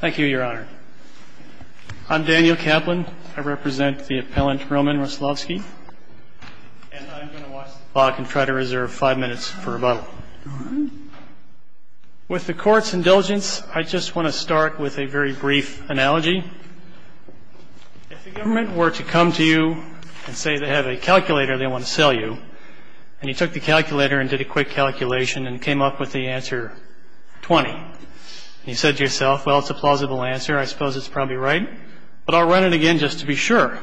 Thank you, Your Honor. I'm Daniel Kaplan. I represent the appellant Roman Wroclawski, and I'm going to watch the clock and try to reserve five minutes for rebuttal. With the Court's indulgence, I just want to start with a very brief analogy. If the government were to come to you and say they have a calculator they want to sell you, and you took the calculator and did a quick calculation and came up with the answer 20, and you said to yourself, well, it's a plausible answer, I suppose it's probably right, but I'll run it again just to be sure.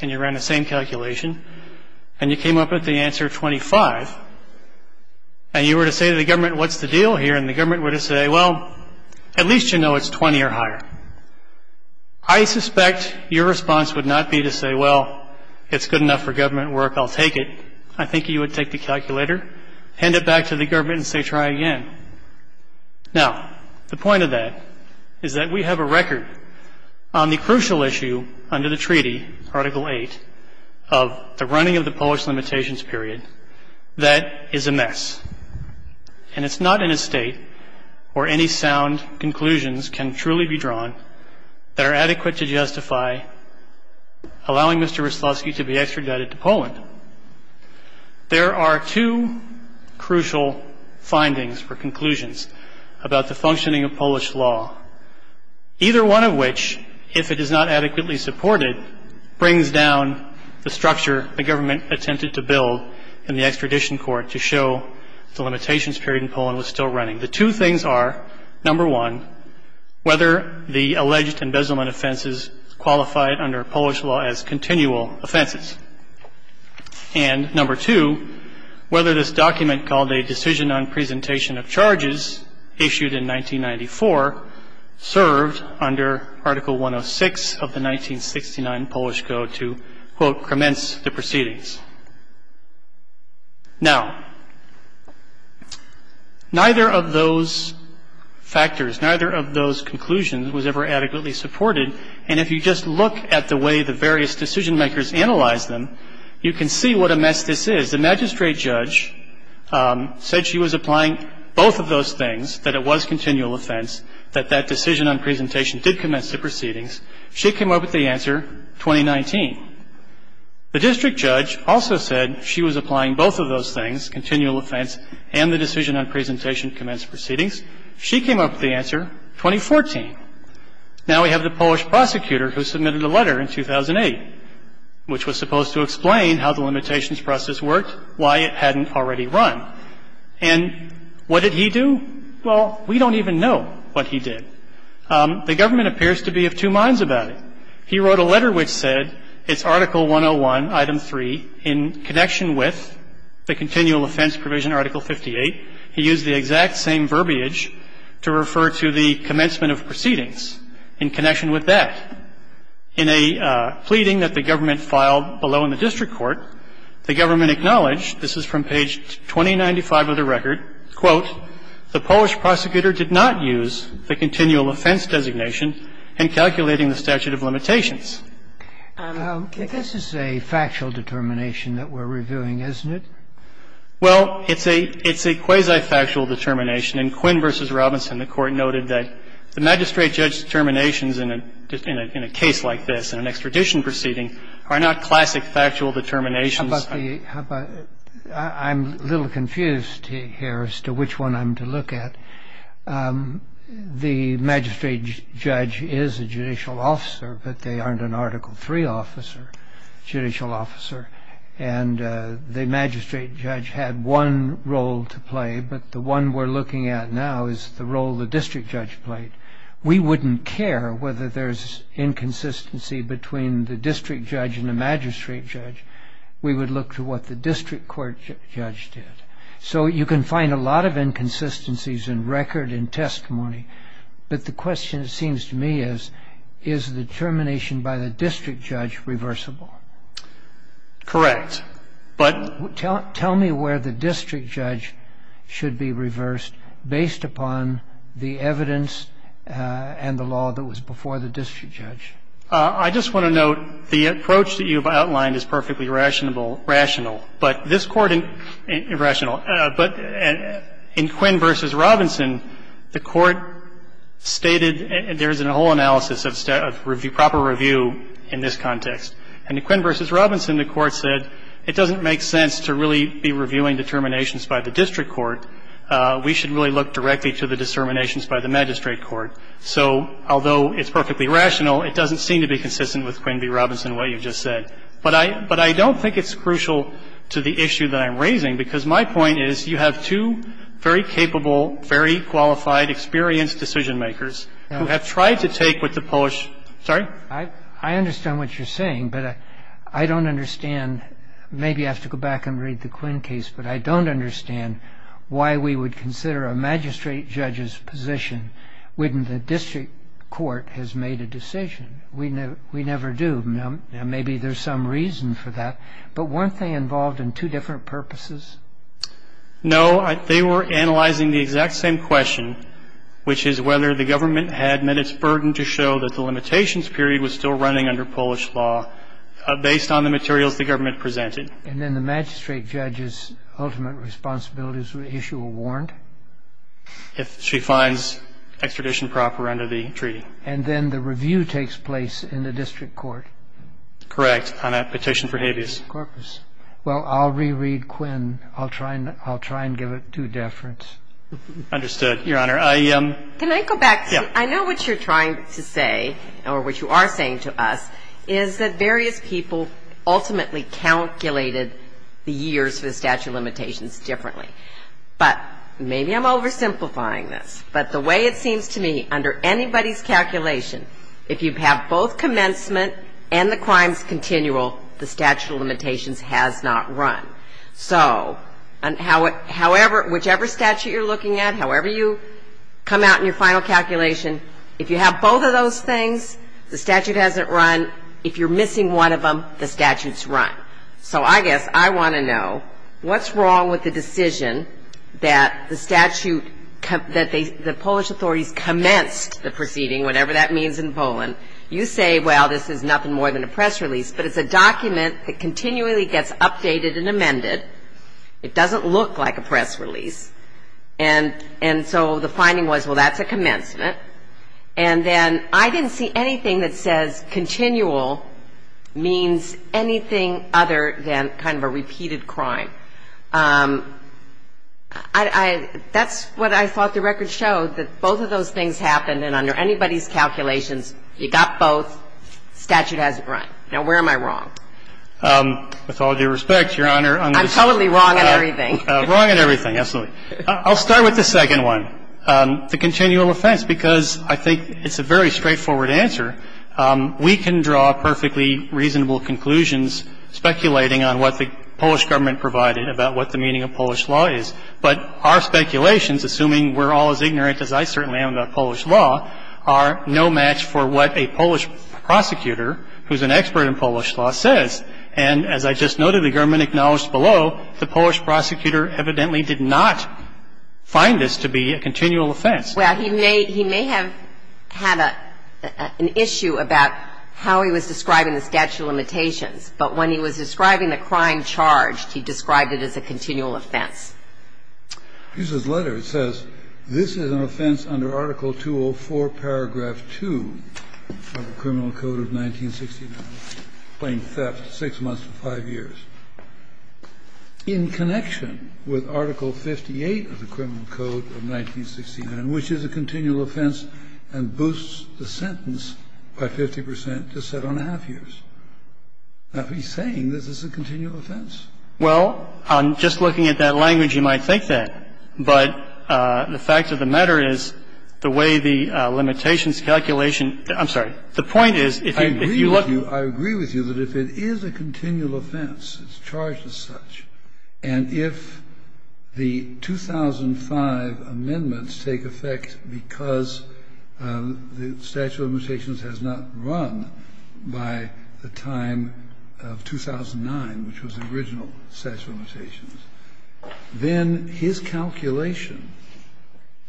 And you ran the same calculation, and you came up with the answer 25, and you were to say to the government, what's the deal here? And the government were to say, well, at least you know it's 20 or higher. I suspect your response would not be to say, well, it's good enough for government work, I'll take it. I think you would take the calculator, hand it back to the government and say try again. Now, the point of that is that we have a record on the crucial issue under the treaty, Article 8, of the running of the Polish limitations period that is a mess. And it's not in a state where any sound conclusions can truly be drawn that are adequate to justify allowing Mr. Wyslowski to be extradited to Poland. There are two crucial findings or conclusions about the functioning of Polish law, either one of which, if it is not adequately supported, brings down the structure the government attempted to build in the extradition court to show the limitations period in Poland was still running. The two things are, number one, whether the alleged embezzlement offenses qualified under Polish law as continual offenses. And number two, whether this document called a decision on presentation of charges issued in 1994 served under Article 106 of the 1969 Polish Code to, quote, commence the proceedings. Now, neither of those factors, neither of those conclusions was ever adequately supported. And if you just look at the way the various decision makers analyzed them, you can see what a mess this is. The magistrate judge said she was applying both of those things, that it was continual offense, that that decision on presentation did commence the proceedings. She came up with the answer, 2019. The district judge also said she was applying both of those things, continual offense, and the decision on presentation commenced proceedings. She came up with the answer, 2014. Now we have the Polish prosecutor who submitted a letter in 2008, which was supposed to explain how the limitations process worked, why it hadn't already run. And what did he do? Well, we don't even know what he did. The government appears to be of two minds about it. He wrote a letter which said it's Article 101, Item 3, in connection with the continual offense provision, Article 58. He used the exact same verbiage to refer to the commencement of proceedings in connection with that. In a pleading that the government filed below in the district court, the government acknowledged, this is from page 2095 of the record, quote, the Polish prosecutor did not use the continual offense designation in calculating the statute of limitations. This is a factual determination that we're reviewing, isn't it? Well, it's a quasi-factual determination. In Quinn v. Robinson, the Court noted that the magistrate judge's determinations in a case like this, in an extradition proceeding, are not classic factual determinations. I'm a little confused here as to which one I'm to look at. The magistrate judge is a judicial officer, but they aren't an Article 3 officer, judicial officer. And the magistrate judge had one role to play. But the one we're looking at now is the role the district judge played. We wouldn't care whether there's inconsistency between the district judge and the magistrate judge. We would look to what the district court judge did. So you can find a lot of inconsistencies in record and testimony. But the question, it seems to me, is, is the determination by the district judge reversible? Correct. But tell me where the district judge should be reversed based upon the evidence and the law that was before the district judge. I just want to note the approach that you've outlined is perfectly rational. But this Court in Quinn v. Robinson, the Court stated there's a whole analysis of proper review in this context. And in Quinn v. Robinson, the Court said it doesn't make sense to really be reviewing determinations by the district court. We should really look directly to the determinations by the magistrate court. So although it's perfectly rational, it doesn't seem to be consistent with Quinn v. Robinson, what you just said. But I don't think it's crucial to the issue that I'm raising, because my point is, you have two very capable, very qualified, experienced decision-makers who have tried to take what the Polish ---- sorry? I understand what you're saying, but I don't understand. Maybe I have to go back and read the Quinn case, but I don't understand why we would consider a magistrate judge's position when the district court has made a decision. We never do. Maybe there's some reason for that. But weren't they involved in two different purposes? No, they were analyzing the exact same question, which is whether the government had met its burden to show that the limitations period was still running under Polish law based on the materials the government presented. And then the magistrate judge's ultimate responsibilities were issued or warned? If she finds extradition proper under the treaty. And then the review takes place in the district court. Correct. On a petition for habeas corpus. Well, I'll reread Quinn. I'll try and give it due deference. Understood, Your Honor. Can I go back? I know what you're trying to say, or what you are saying to us, is that various people ultimately calculated the years for the statute of limitations differently. But maybe I'm oversimplifying this. But the way it seems to me, under anybody's calculation, if you have both commencement and the crimes continual, the statute of limitations has not run. So whichever statute you're looking at, however you come out in your final calculation, if you have both of those things, the statute hasn't run. If you're missing one of them, the statute's run. So I guess I want to know, what's wrong with the decision that the statute that the Polish authorities commenced the proceeding, whatever that means in Poland. You say, well, this is nothing more than a press release. But it's a document that continually gets updated and amended. It doesn't look like a press release. And so the finding was, well, that's a commencement. And then I didn't see anything that says continual means anything other than kind of a repeated crime. That's what I thought the record showed, that both of those things happened, and under anybody's calculations, you got both, statute hasn't run. Now, where am I wrong? With all due respect, Your Honor. I'm totally wrong on everything. Wrong on everything, absolutely. I'll start with the second one, the continual offense, because I think it's a very straightforward answer. We can draw perfectly reasonable conclusions speculating on what the Polish government provided about what the meaning of Polish law is. But our speculations, assuming we're all as ignorant as I certainly am about Polish law, are no match for what a Polish prosecutor, who's an expert in Polish law, says. And as I just noted, the government acknowledged below, the Polish prosecutor evidently did not find this to be a continual offense. Well, he may have had an issue about how he was describing the statute of limitations, but when he was describing the crime charged, he described it as a continual offense. Hughes' letter, it says, This is an offense under Article 204, paragraph 2 of the Criminal Code of 1969, plain theft, six months to five years, in connection with Article 58 of the Criminal Code of 1969, which is a continual offense and boosts the sentence by 50 percent to seven and a half years. Now, he's saying this is a continual offense. Well, just looking at that language, you might think that. But the fact of the matter is, the way the limitations calculation – I'm sorry. The point is, if you look at the statute of limitations, it's a continual offense. It's charged as such. And if the 2005 amendments take effect because the statute of limitations has not run by the time of 2009, which was the original statute of limitations, then his calculation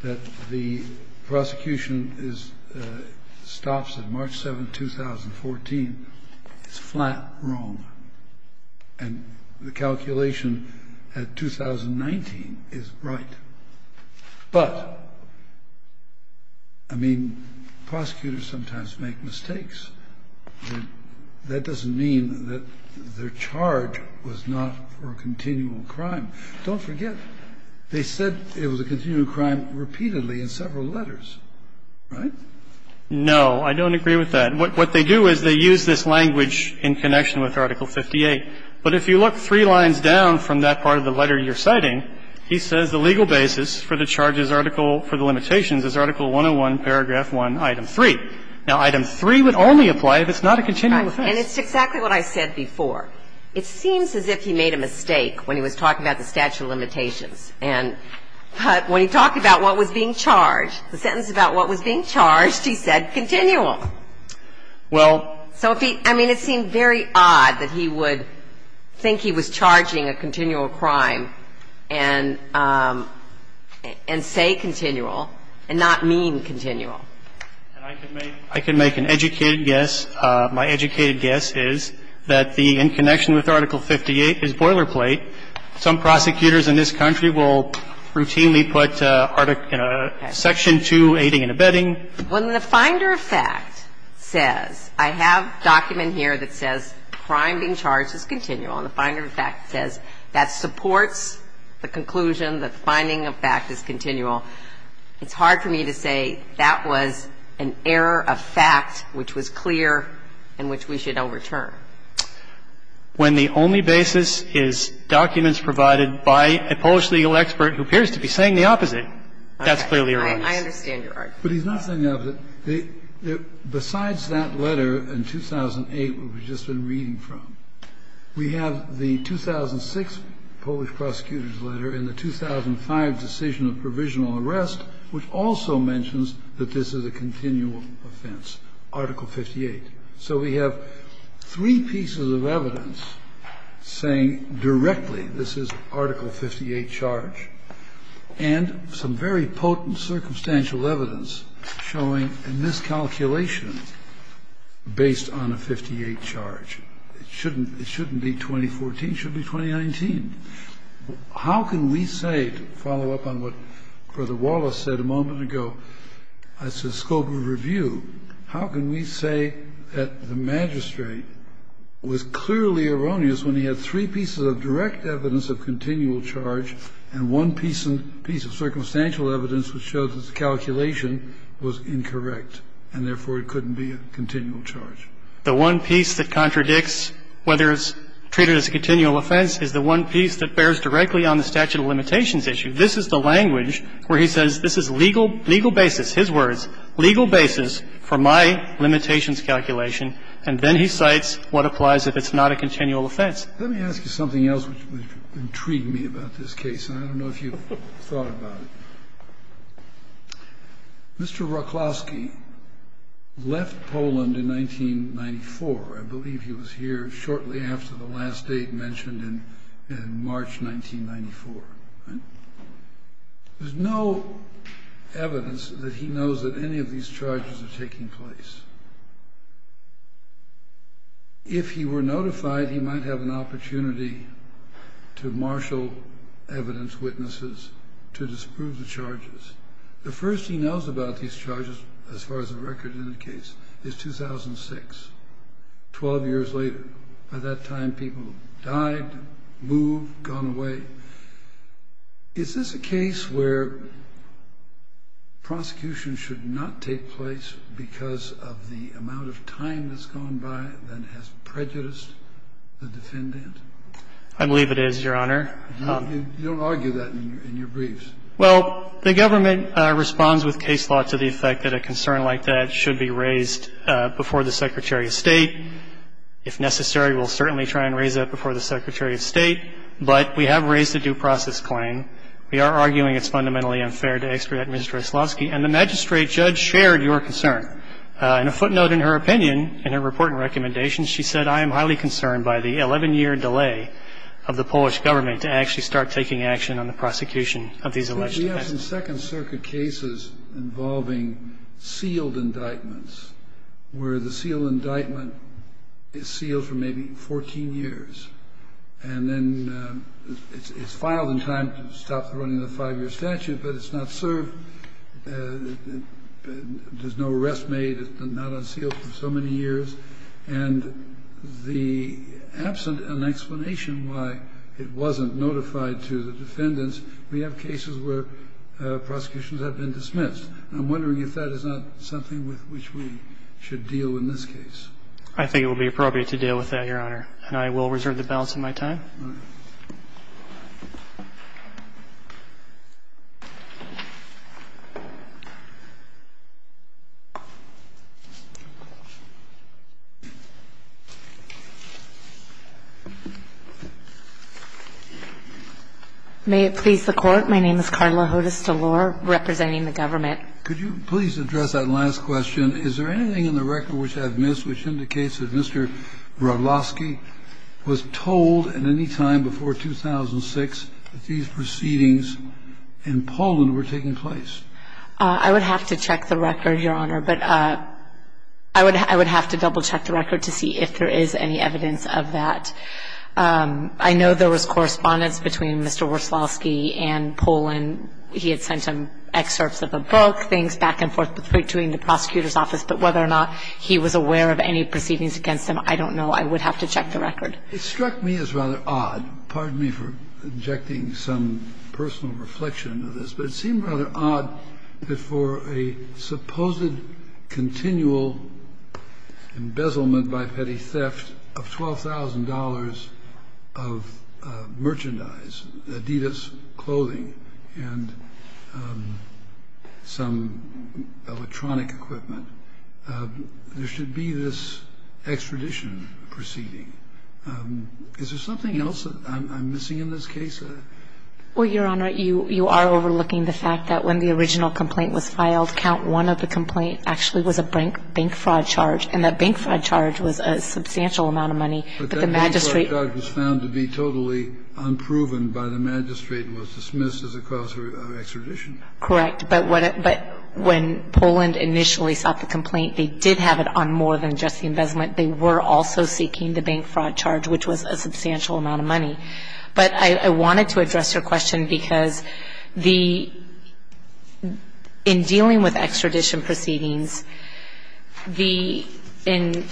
that the prosecution is – stops at March 7, 2014, is flat wrong. And the calculation at 2019 is right. But, I mean, prosecutors sometimes make mistakes. That doesn't mean that their charge was not for a continual crime. Don't forget, they said it was a continual crime repeatedly in several letters. Right? No. I don't agree with that. What they do is they use this language in connection with Article 58. But if you look three lines down from that part of the letter you're citing, he says the legal basis for the charges article – for the limitations is Article 101, paragraph 1, item 3. Now, item 3 would only apply if it's not a continual offense. Right. And it's exactly what I said before. It seems as if he made a mistake when he was talking about the statute of limitations. And when he talked about what was being charged, the sentence about what was being charged, he said continual. Well – So if he – I mean, it seemed very odd that he would think he was charging a continual crime and say continual and not mean continual. And I can make – I can make an educated guess. My educated guess is that the – in connection with Article 58 is boilerplate. Some prosecutors in this country will routinely put Article – Section 2, aiding and abetting. When the finder of fact says – I have a document here that says crime being charged is continual. And the finder of fact says that supports the conclusion that the finding of fact is continual. It's hard for me to say that was an error of fact which was clear and which we should overturn. When the only basis is documents provided by a Polish legal expert who appears to be saying the opposite, that's clearly your argument. I understand your argument. But he's not saying the opposite. Besides that letter in 2008, which we've just been reading from, we have the 2006 Polish prosecutor's letter and the 2005 decision of provisional arrest which also mentions that this is a continual offense, Article 58. So we have three pieces of evidence saying directly this is Article 58 charge and some very potent circumstantial evidence showing a miscalculation based on a 58 charge. It shouldn't be 2014. It should be 2019. How can we say, to follow up on what Brother Wallace said a moment ago, as a scope of review, how can we say that the magistrate was clearly erroneous when he had three pieces of direct evidence of continual charge and one piece of circumstantial evidence which shows that the calculation was incorrect and therefore it couldn't be a continual charge? The one piece that contradicts whether it's treated as a continual offense is the one piece that bears directly on the statute of limitations issue. This is the language where he says this is legal, legal basis, his words, legal basis for my limitations calculation, and then he cites what applies if it's not a continual offense. Let me ask you something else which intrigued me about this case, and I don't know if you've thought about it. Mr. Raklowski left Poland in 1994. I believe he was here shortly after the last date mentioned in March 1994. There's no evidence that he knows that any of these charges are taking place. If he were notified, he might have an opportunity to marshal evidence witnesses to disprove the charges. The first he knows about these charges, as far as the record indicates, is 2006, 12 years later. By that time, people have died, moved, gone away. Is this a case where prosecution should not take place because of the amount of time that's gone by that has prejudiced the defendant? I believe it is, Your Honor. You don't argue that in your briefs. Well, the government responds with case law to the effect that a concern like that should be raised before the Secretary of State. If necessary, we'll certainly try and raise that before the Secretary of State. But we have raised a due process claim. We are arguing it's fundamentally unfair to extradite Mr. Raklowski. And the magistrate judge shared your concern. In a footnote in her opinion, in her report and recommendations, she said, I am highly concerned by the 11-year delay of the Polish government to actually start taking action on the prosecution of these alleged assassins. We have some Second Circuit cases involving sealed indictments where the sealed indictment is sealed for maybe 14 years. And then it's filed in time to stop the running of the five-year statute, but it's not served. There's no arrest made. It's not unsealed for so many years. And the absent an explanation why it wasn't notified to the defendants, we have cases where prosecutions have been dismissed. And I'm wondering if that is not something with which we should deal in this case. I think it would be appropriate to deal with that, Your Honor. And I will reserve the balance of my time. Thank you, Your Honor. May it please the Court. My name is Carla Hodes DeLore representing the government. Could you please address that last question? Is there anything in the record which I've missed which indicates that Mr. Raklowski was told at any time before 2006 that these proceedings in Poland were taking place? I would have to check the record, Your Honor. But I would have to double-check the record to see if there is any evidence of that. I know there was correspondence between Mr. Raklowski and Poland. He had sent him excerpts of a book, things back and forth between the prosecutor's office. But whether or not he was aware of any proceedings against him, I don't know. I would have to check the record. It struck me as rather odd. Pardon me for injecting some personal reflection into this. But it seemed rather odd that for a supposed continual embezzlement by petty theft of $12,000 of merchandise, Adidas clothing and some electronic equipment, there should be this extradition proceeding. Is there something else that I'm missing in this case? Well, Your Honor, you are overlooking the fact that when the original complaint was filed, count one of the complaint actually was a bank fraud charge. And that bank fraud charge was a substantial amount of money. But the magistrate was found to be totally unproven by the magistrate and was dismissed as a cause of extradition. Correct. But when Poland initially sought the complaint, they did have it on more than just the embezzlement. They were also seeking the bank fraud charge, which was a substantial amount of money. But I wanted to address your question because the – in dealing with extradition proceedings, the – when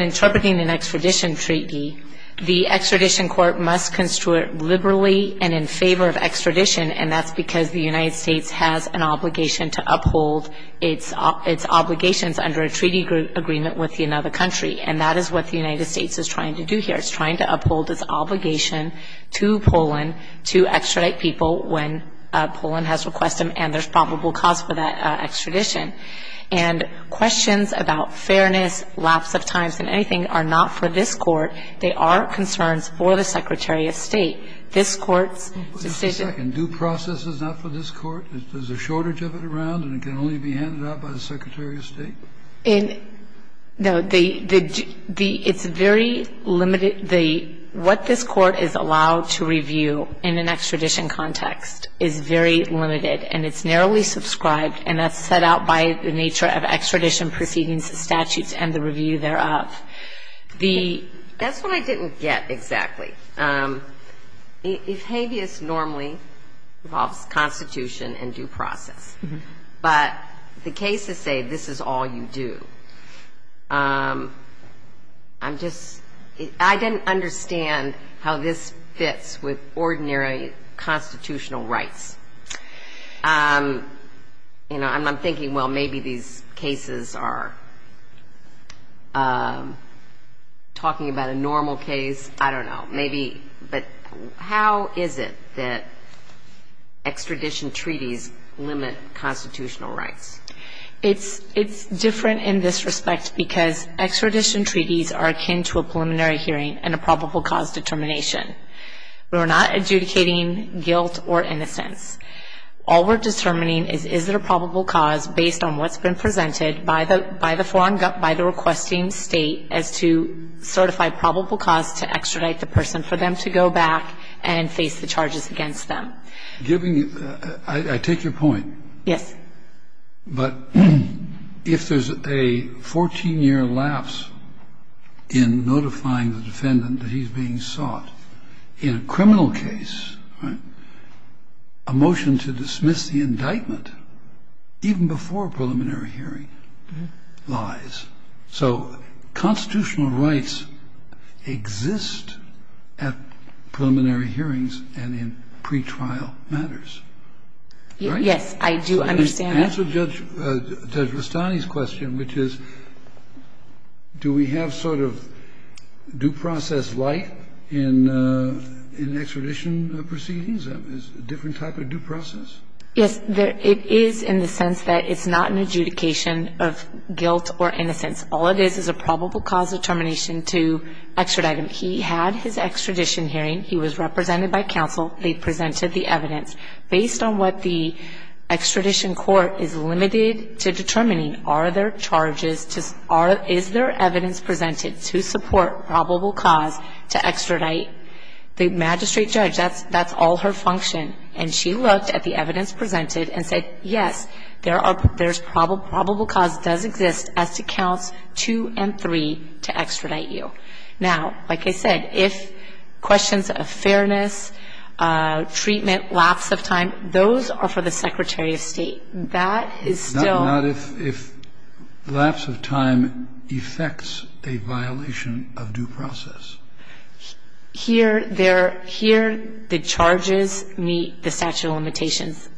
interpreting an extradition treaty, the extradition court must construe it liberally and in favor of extradition, and that's because the United States has an obligation to uphold its obligations under a treaty agreement with another country. And that is what the United States is trying to do here. It's trying to uphold its obligation to Poland to extradite people when Poland has requested them and there's probable cause for that extradition. And questions about fairness, lapse of times and anything are not for this Court. They are concerns for the Secretary of State. This Court's decision – This Court's decision is not for this Court. There's a shortage of it around and it can only be handed out by the Secretary of State? In – no, the – it's very limited. The – what this Court is allowed to review in an extradition context is very limited and it's narrowly subscribed and that's set out by the nature of extradition proceedings, the statutes and the review thereof. The – that's what I didn't get exactly. If habeas normally involves constitution and due process, but the cases say this is all you do. I'm just – I didn't understand how this fits with ordinary constitutional rights. You know, I'm thinking, well, maybe these cases are talking about a normal case. I don't know. Maybe – but how is it that extradition treaties limit constitutional rights? It's – it's different in this respect because extradition treaties are akin to a preliminary hearing and a probable cause determination. We're not adjudicating guilt or innocence. All we're determining is, is there a probable cause based on what's been presented by the – by the – by the requesting state as to certify probable cause to extradite the person for them to go back and face the charges against them. Giving – I take your point. Yes. But if there's a 14-year lapse in notifying the defendant that he's being sought in a criminal case, right, a motion to dismiss the indictment even before a preliminary hearing lies. So constitutional rights exist at preliminary hearings and in pretrial matters, right? Yes, I do understand that. To answer Judge Rustani's question, which is, do we have sort of due process light in – in extradition proceedings? Is it a different type of due process? Yes. It is in the sense that it's not an adjudication of guilt or innocence. All it is is a probable cause determination to extradite him. He had his extradition hearing. He was represented by counsel. They presented the evidence. Based on what the extradition court is limited to determining, are there charges to – are – is there evidence presented to support probable cause to extradite the magistrate judge? That's – that's all her function. And she looked at the evidence presented and said, yes, there are – there's probable cause does exist as to counts two and three to extradite you. Now, like I said, if questions of fairness, treatment, lapse of time, those are for the Secretary of State. That is still – Not if – if lapse of time effects a violation of due process. Here, there – here, the charges meet the statute of limitations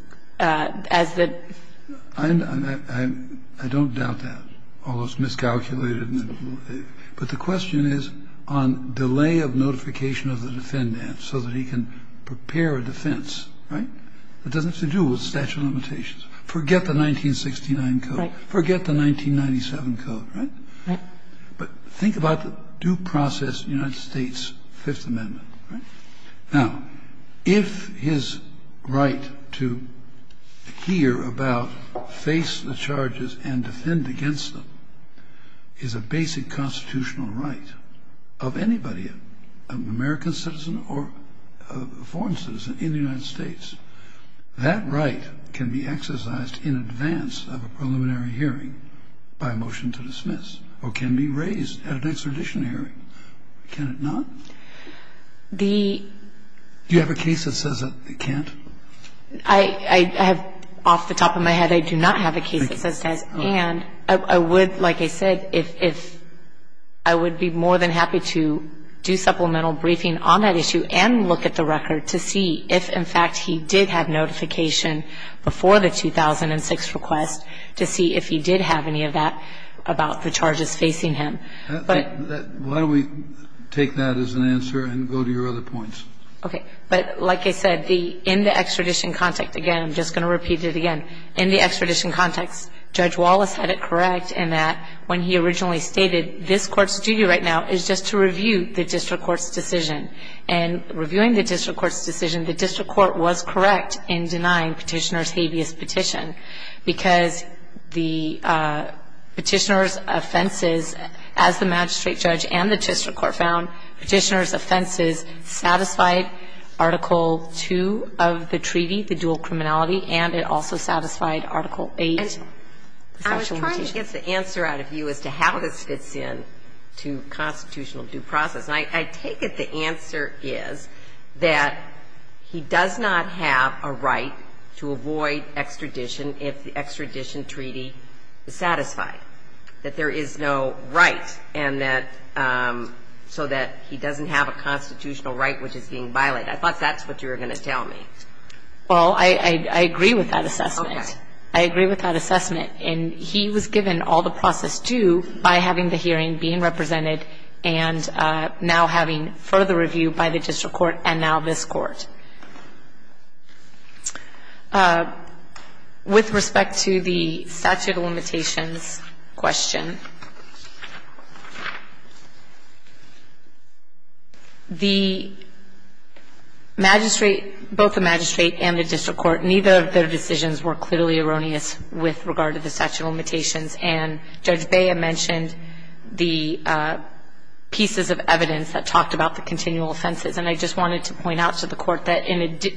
as the – I don't doubt that, although it's miscalculated. But the question is on delay of notification of the defendant so that he can prepare a defense, right? It doesn't have to do with statute of limitations. Forget the 1969 code. Forget the 1997 code, right? Right. But think about the due process in the United States Fifth Amendment, right? Now, if his right to hear about, face the charges, and defend against them is a basic constitutional right of anybody, an American citizen or a foreign citizen in the United States, that right can be exercised in advance of a preliminary hearing by motion to dismiss or can be raised at an extradition hearing. Can it not? The – Do you have a case that says it can't? I have – off the top of my head, I do not have a case that says it has. And I would, like I said, if – I would be more than happy to do supplemental briefing on that issue and look at the record to see if, in fact, he did have notification before the 2006 request to see if he did have any of that about the charges facing him. But – Why don't we take that as an answer and go to your other points? Okay. But like I said, in the extradition context, again, I'm just going to repeat it again. In the extradition context, Judge Wallace had it correct in that when he originally stated this Court's duty right now is just to review the district court's decision. And reviewing the district court's decision, the district court was correct in denying Petitioner's habeas petition. Because the Petitioner's offenses, as the magistrate judge and the district court found, Petitioner's offenses satisfied Article II of the treaty, the dual criminality, and it also satisfied Article VIII. And I was trying to get the answer out of you as to how this fits into constitutional due process. And I take it the answer is that he does not have a right to avoid extradition if the extradition treaty is satisfied, that there is no right, and that – so that he doesn't have a constitutional right which is being violated. I thought that's what you were going to tell me. Well, I agree with that assessment. Okay. I agree with that assessment. And he was given all the process due by having the hearing, being represented, and now having further review by the district court and now this Court. With respect to the statute of limitations question, the magistrate, both the magistrate and the district court, neither of their decisions were clearly erroneous with regard to the statute of limitations. And Judge Bea mentioned the pieces of evidence that talked about the continual offenses. And I just wanted to point out to the Court that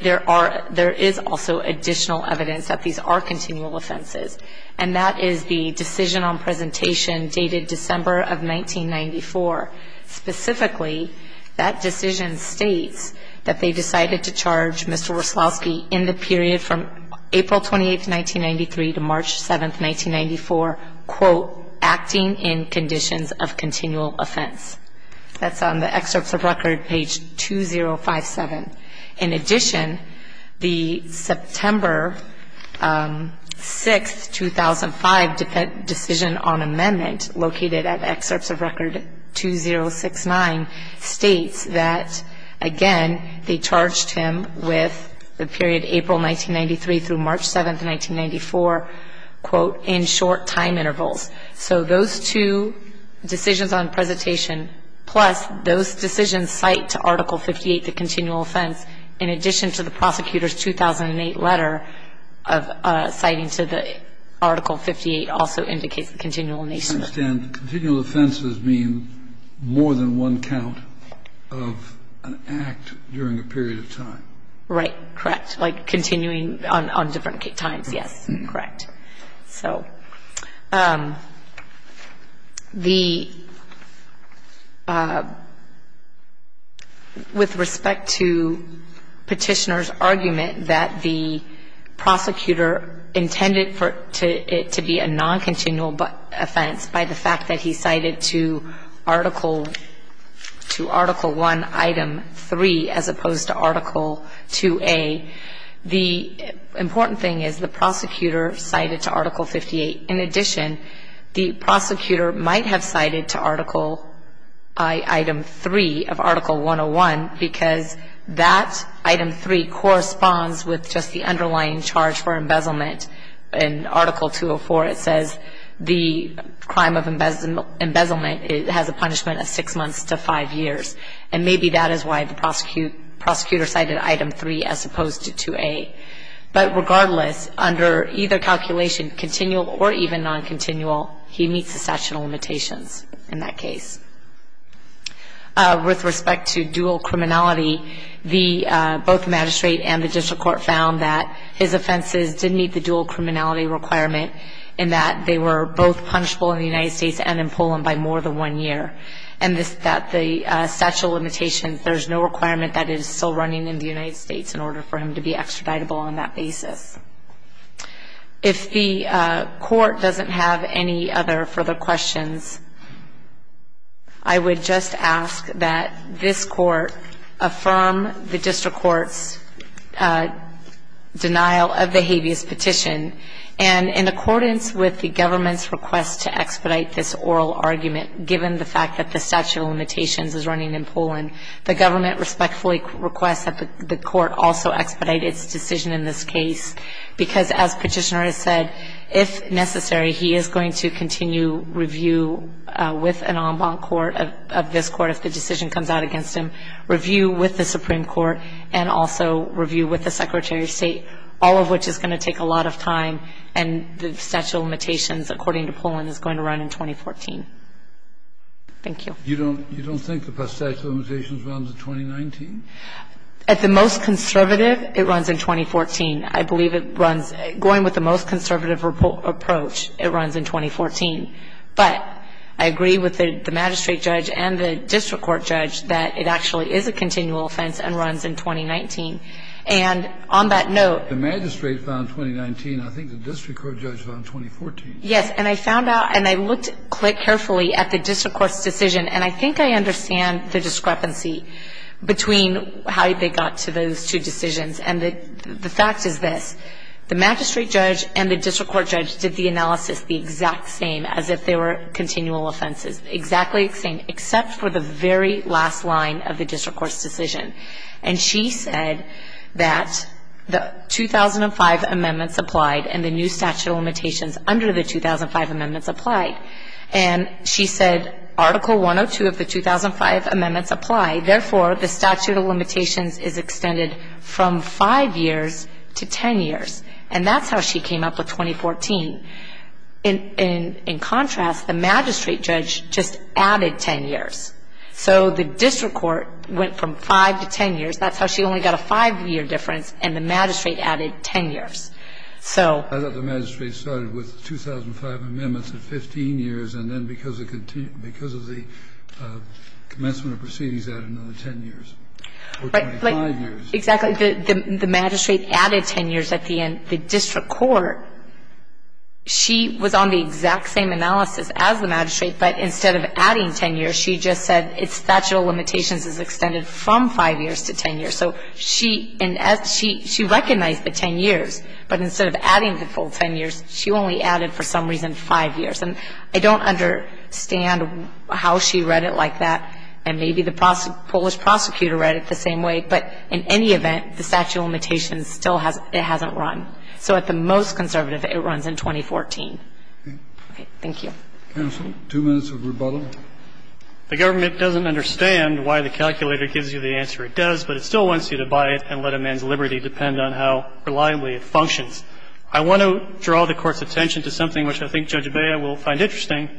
there is also additional evidence that these are continual offenses. And that is the decision on presentation dated December of 1994. Specifically, that decision states that they decided to charge Mr. Wreslowski in the period from April 28, 1993, to March 7, 1994, quote, acting in conditions of continual offense. That's on the excerpts of record, page 2057. In addition, the September 6, 2005 decision on amendment located at excerpts of record 2069 states that, again, they charged him with the period April 1993 through March 7, 1994, quote, in short time intervals. So those two decisions on presentation, plus those decisions cite to Article 58, the continual offense, in addition to the prosecutor's 2008 letter citing to the Article 58, also indicates the continual nature. I understand. The continual offenses mean more than one count of an act during a period of time. Right. Correct. Like continuing on different times. Yes. Correct. So the — with respect to Petitioner's argument that the prosecutor intended for it to be a noncontinual offense by the fact that he cited to Article — to Article 1, Item 3, as opposed to Article 2A, the important thing is the prosecutor cited to Article 58. In addition, the prosecutor might have cited to Article — Item 3 of Article 101 because that Item 3 corresponds with just the underlying charge for embezzlement. In Article 204, it says the crime of embezzlement has a punishment of six months to five years. And maybe that is why the prosecutor cited Item 3 as opposed to 2A. But regardless, under either calculation, continual or even noncontinual, he meets the statute of limitations in that case. With respect to dual criminality, the — both the magistrate and the district court found that his offenses did meet the dual criminality requirement in that they were both punishable in the United States and in Poland by more than one year. And this — that the statute of limitations, there is no requirement that it is still running in the United States in order for him to be extraditable on that basis. If the court doesn't have any other further questions, I would just ask that this court affirm the district court's denial of the habeas petition. And in accordance with the government's request to expedite this oral argument, given the fact that the statute of limitations is running in Poland, the government respectfully requests that the court also expedite its decision in this case. Because as Petitioner has said, if necessary, he is going to continue review with an en banc court of this court if the decision comes out against him, review with the Supreme Court, and also review with the Secretary of State, all of which is going to take a lot of time, and the statute of limitations, according to Poland, is going to run in 2014. Thank you. You don't think the statute of limitations runs in 2019? At the most conservative, it runs in 2014. I believe it runs — going with the most conservative approach, it runs in 2014. But I agree with the magistrate judge and the district court judge that it actually is a continual offense and runs in 2019. And on that note — The magistrate found 2019. I think the district court judge found 2014. Yes. And I found out, and I looked carefully at the district court's decision, and I think I understand the discrepancy between how they got to those two decisions. And the fact is this. The magistrate judge and the district court judge did the analysis the exact same as if they were continual offenses, exactly the same, except for the very last line of the district court's decision. And she said that the 2005 amendments applied and the new statute of limitations under the 2005 amendments applied. And she said Article 102 of the 2005 amendments applied. Therefore, the statute of limitations is extended from 5 years to 10 years. And that's how she came up with 2014. In contrast, the magistrate judge just added 10 years. So the district court went from 5 to 10 years. That's how she only got a 5-year difference, and the magistrate added 10 years. I thought the magistrate started with 2005 amendments at 15 years, and then because of the commencement of proceedings, added another 10 years. Or 25 years. Exactly. The magistrate added 10 years at the end. The district court, she was on the exact same analysis as the magistrate, but instead of adding 10 years, she just said its statute of limitations is extended from 5 years to 10 years. So she recognized the 10 years, but instead of adding the full 10 years, she only added, for some reason, 5 years. And I don't understand how she read it like that, and maybe the Polish prosecutor read it the same way, but in any event, the statute of limitations still hasn't run. So at the most conservative, it runs in 2014. Okay. Thank you. Counsel, two minutes of rebuttal. The government doesn't understand why the calculator gives you the answer it does, but it still wants you to buy it and let a man's liberty depend on how reliably it functions. I want to draw the Court's attention to something which I think Judge Bea will find interesting.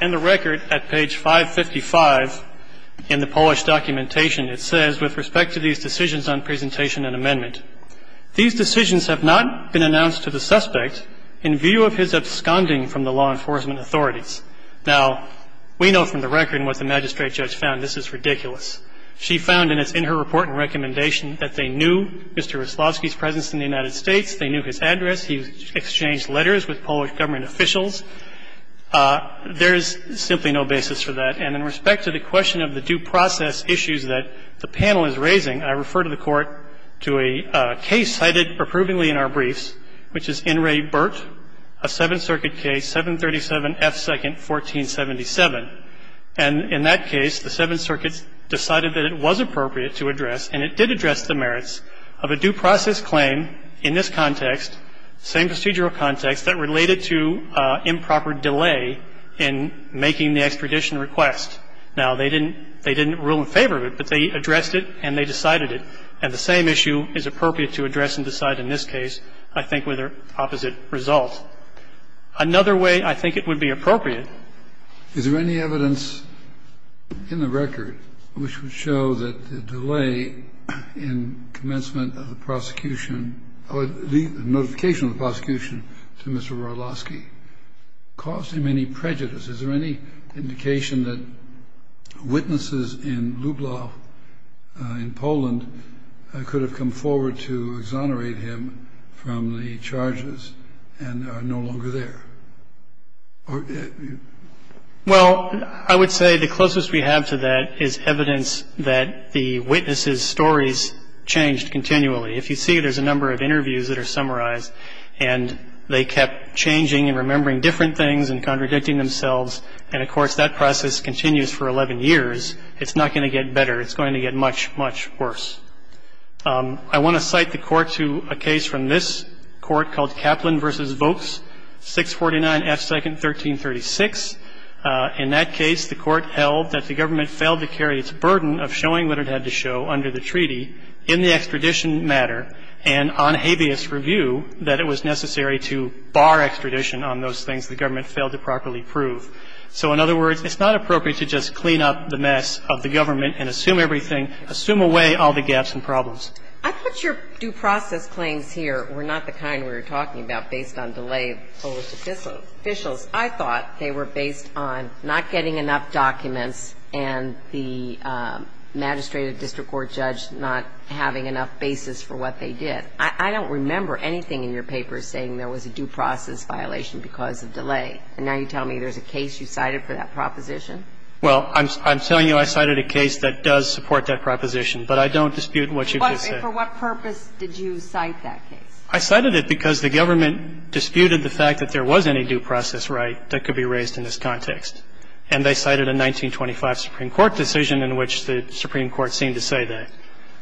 In the record at page 555 in the Polish documentation, it says, with respect to these decisions on presentation and amendment, these decisions have not been announced to the suspect in view of his absconding from the law enforcement authorities. Now, we know from the record and what the magistrate judge found, this is ridiculous. She found, and it's in her report and recommendation, that they knew Mr. Wyslowski's presence in the United States, they knew his address, he exchanged letters with Polish government officials. There is simply no basis for that. And in respect to the question of the due process issues that the panel is raising, I refer to the Court to a case cited approvingly in our briefs, which is In re Burt, a Seventh Circuit case, 737 F. 2nd, 1477. And in that case, the Seventh Circuit decided that it was appropriate to address and it did address the merits of a due process claim in this context, same procedural context, that related to improper delay in making the extradition request. Now, they didn't rule in favor of it, but they addressed it and they decided it. And the same issue is appropriate to address and decide in this case, I think, with the opposite result. Another way I think it would be appropriate. Kennedy. Is there any evidence in the record which would show that the delay in commencement of the prosecution or the notification of the prosecution to Mr. Wyslowski caused him any prejudice? Is there any indication that witnesses in Lublow, in Poland, could have come forward to exonerate him from the charges and are no longer there? Well, I would say the closest we have to that is evidence that the witnesses' stories changed continually. If you see, there's a number of interviews that are summarized, and they kept changing and remembering different things and contradicting themselves. And, of course, that process continues for 11 years. It's not going to get better. It's going to get much, much worse. I want to cite the Court to a case from this Court called Kaplan v. Vokes, 649 F. 2nd, 1336. In that case, the Court held that the government failed to carry its burden of showing what it had to show under the treaty in the extradition matter and on habeas review that it was necessary to bar extradition on those things the government failed to properly prove. So, in other words, it's not appropriate to just clean up the mess of the government and assume everything, assume away all the gaps and problems. I thought your due process claims here were not the kind we were talking about based on delay of Polish officials. I thought they were based on not getting enough documents and the magistrate or district court judge not having enough basis for what they did. I don't remember anything in your papers saying there was a due process violation because of delay. And now you tell me there's a case you cited for that proposition? Well, I'm telling you I cited a case that does support that proposition, but I don't dispute what you just said. And for what purpose did you cite that case? I cited it because the government disputed the fact that there was any due process right that could be raised in this context. And they cited a 1925 Supreme Court decision in which the Supreme Court seemed to say that.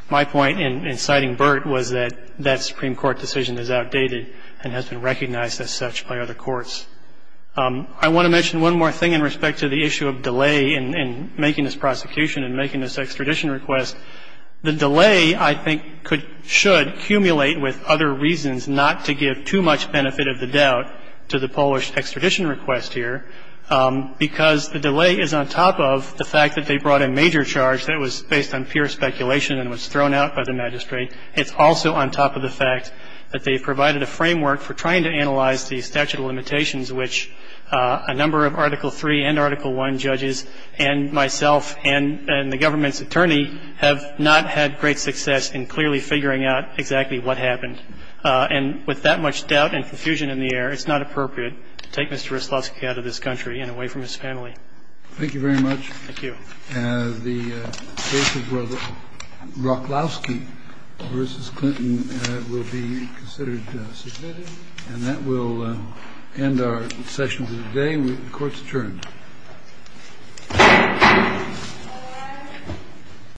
My point in citing Burt was that that Supreme Court decision is outdated and has been recognized as such by other courts. I want to mention one more thing in respect to the issue of delay in making this prosecution and making this extradition request. The delay, I think, should accumulate with other reasons not to give too much benefit of the doubt to the Polish extradition request here, because the delay is on top of the fact that they brought a major charge that was based on pure speculation and was thrown out by the magistrate. It's also on top of the fact that they provided a framework for trying to analyze the statute of limitations, which a number of Article III and Article I judges and myself and the government's attorney have not had great success in clearly figuring out exactly what happened. And with that much doubt and confusion in the air, it's not appropriate to take Mr. Ruslowski out of this country and away from his family. Thank you very much. Thank you. The case of Roklowski v. Clinton will be considered submitted. And that will end our session for today. The court is adjourned.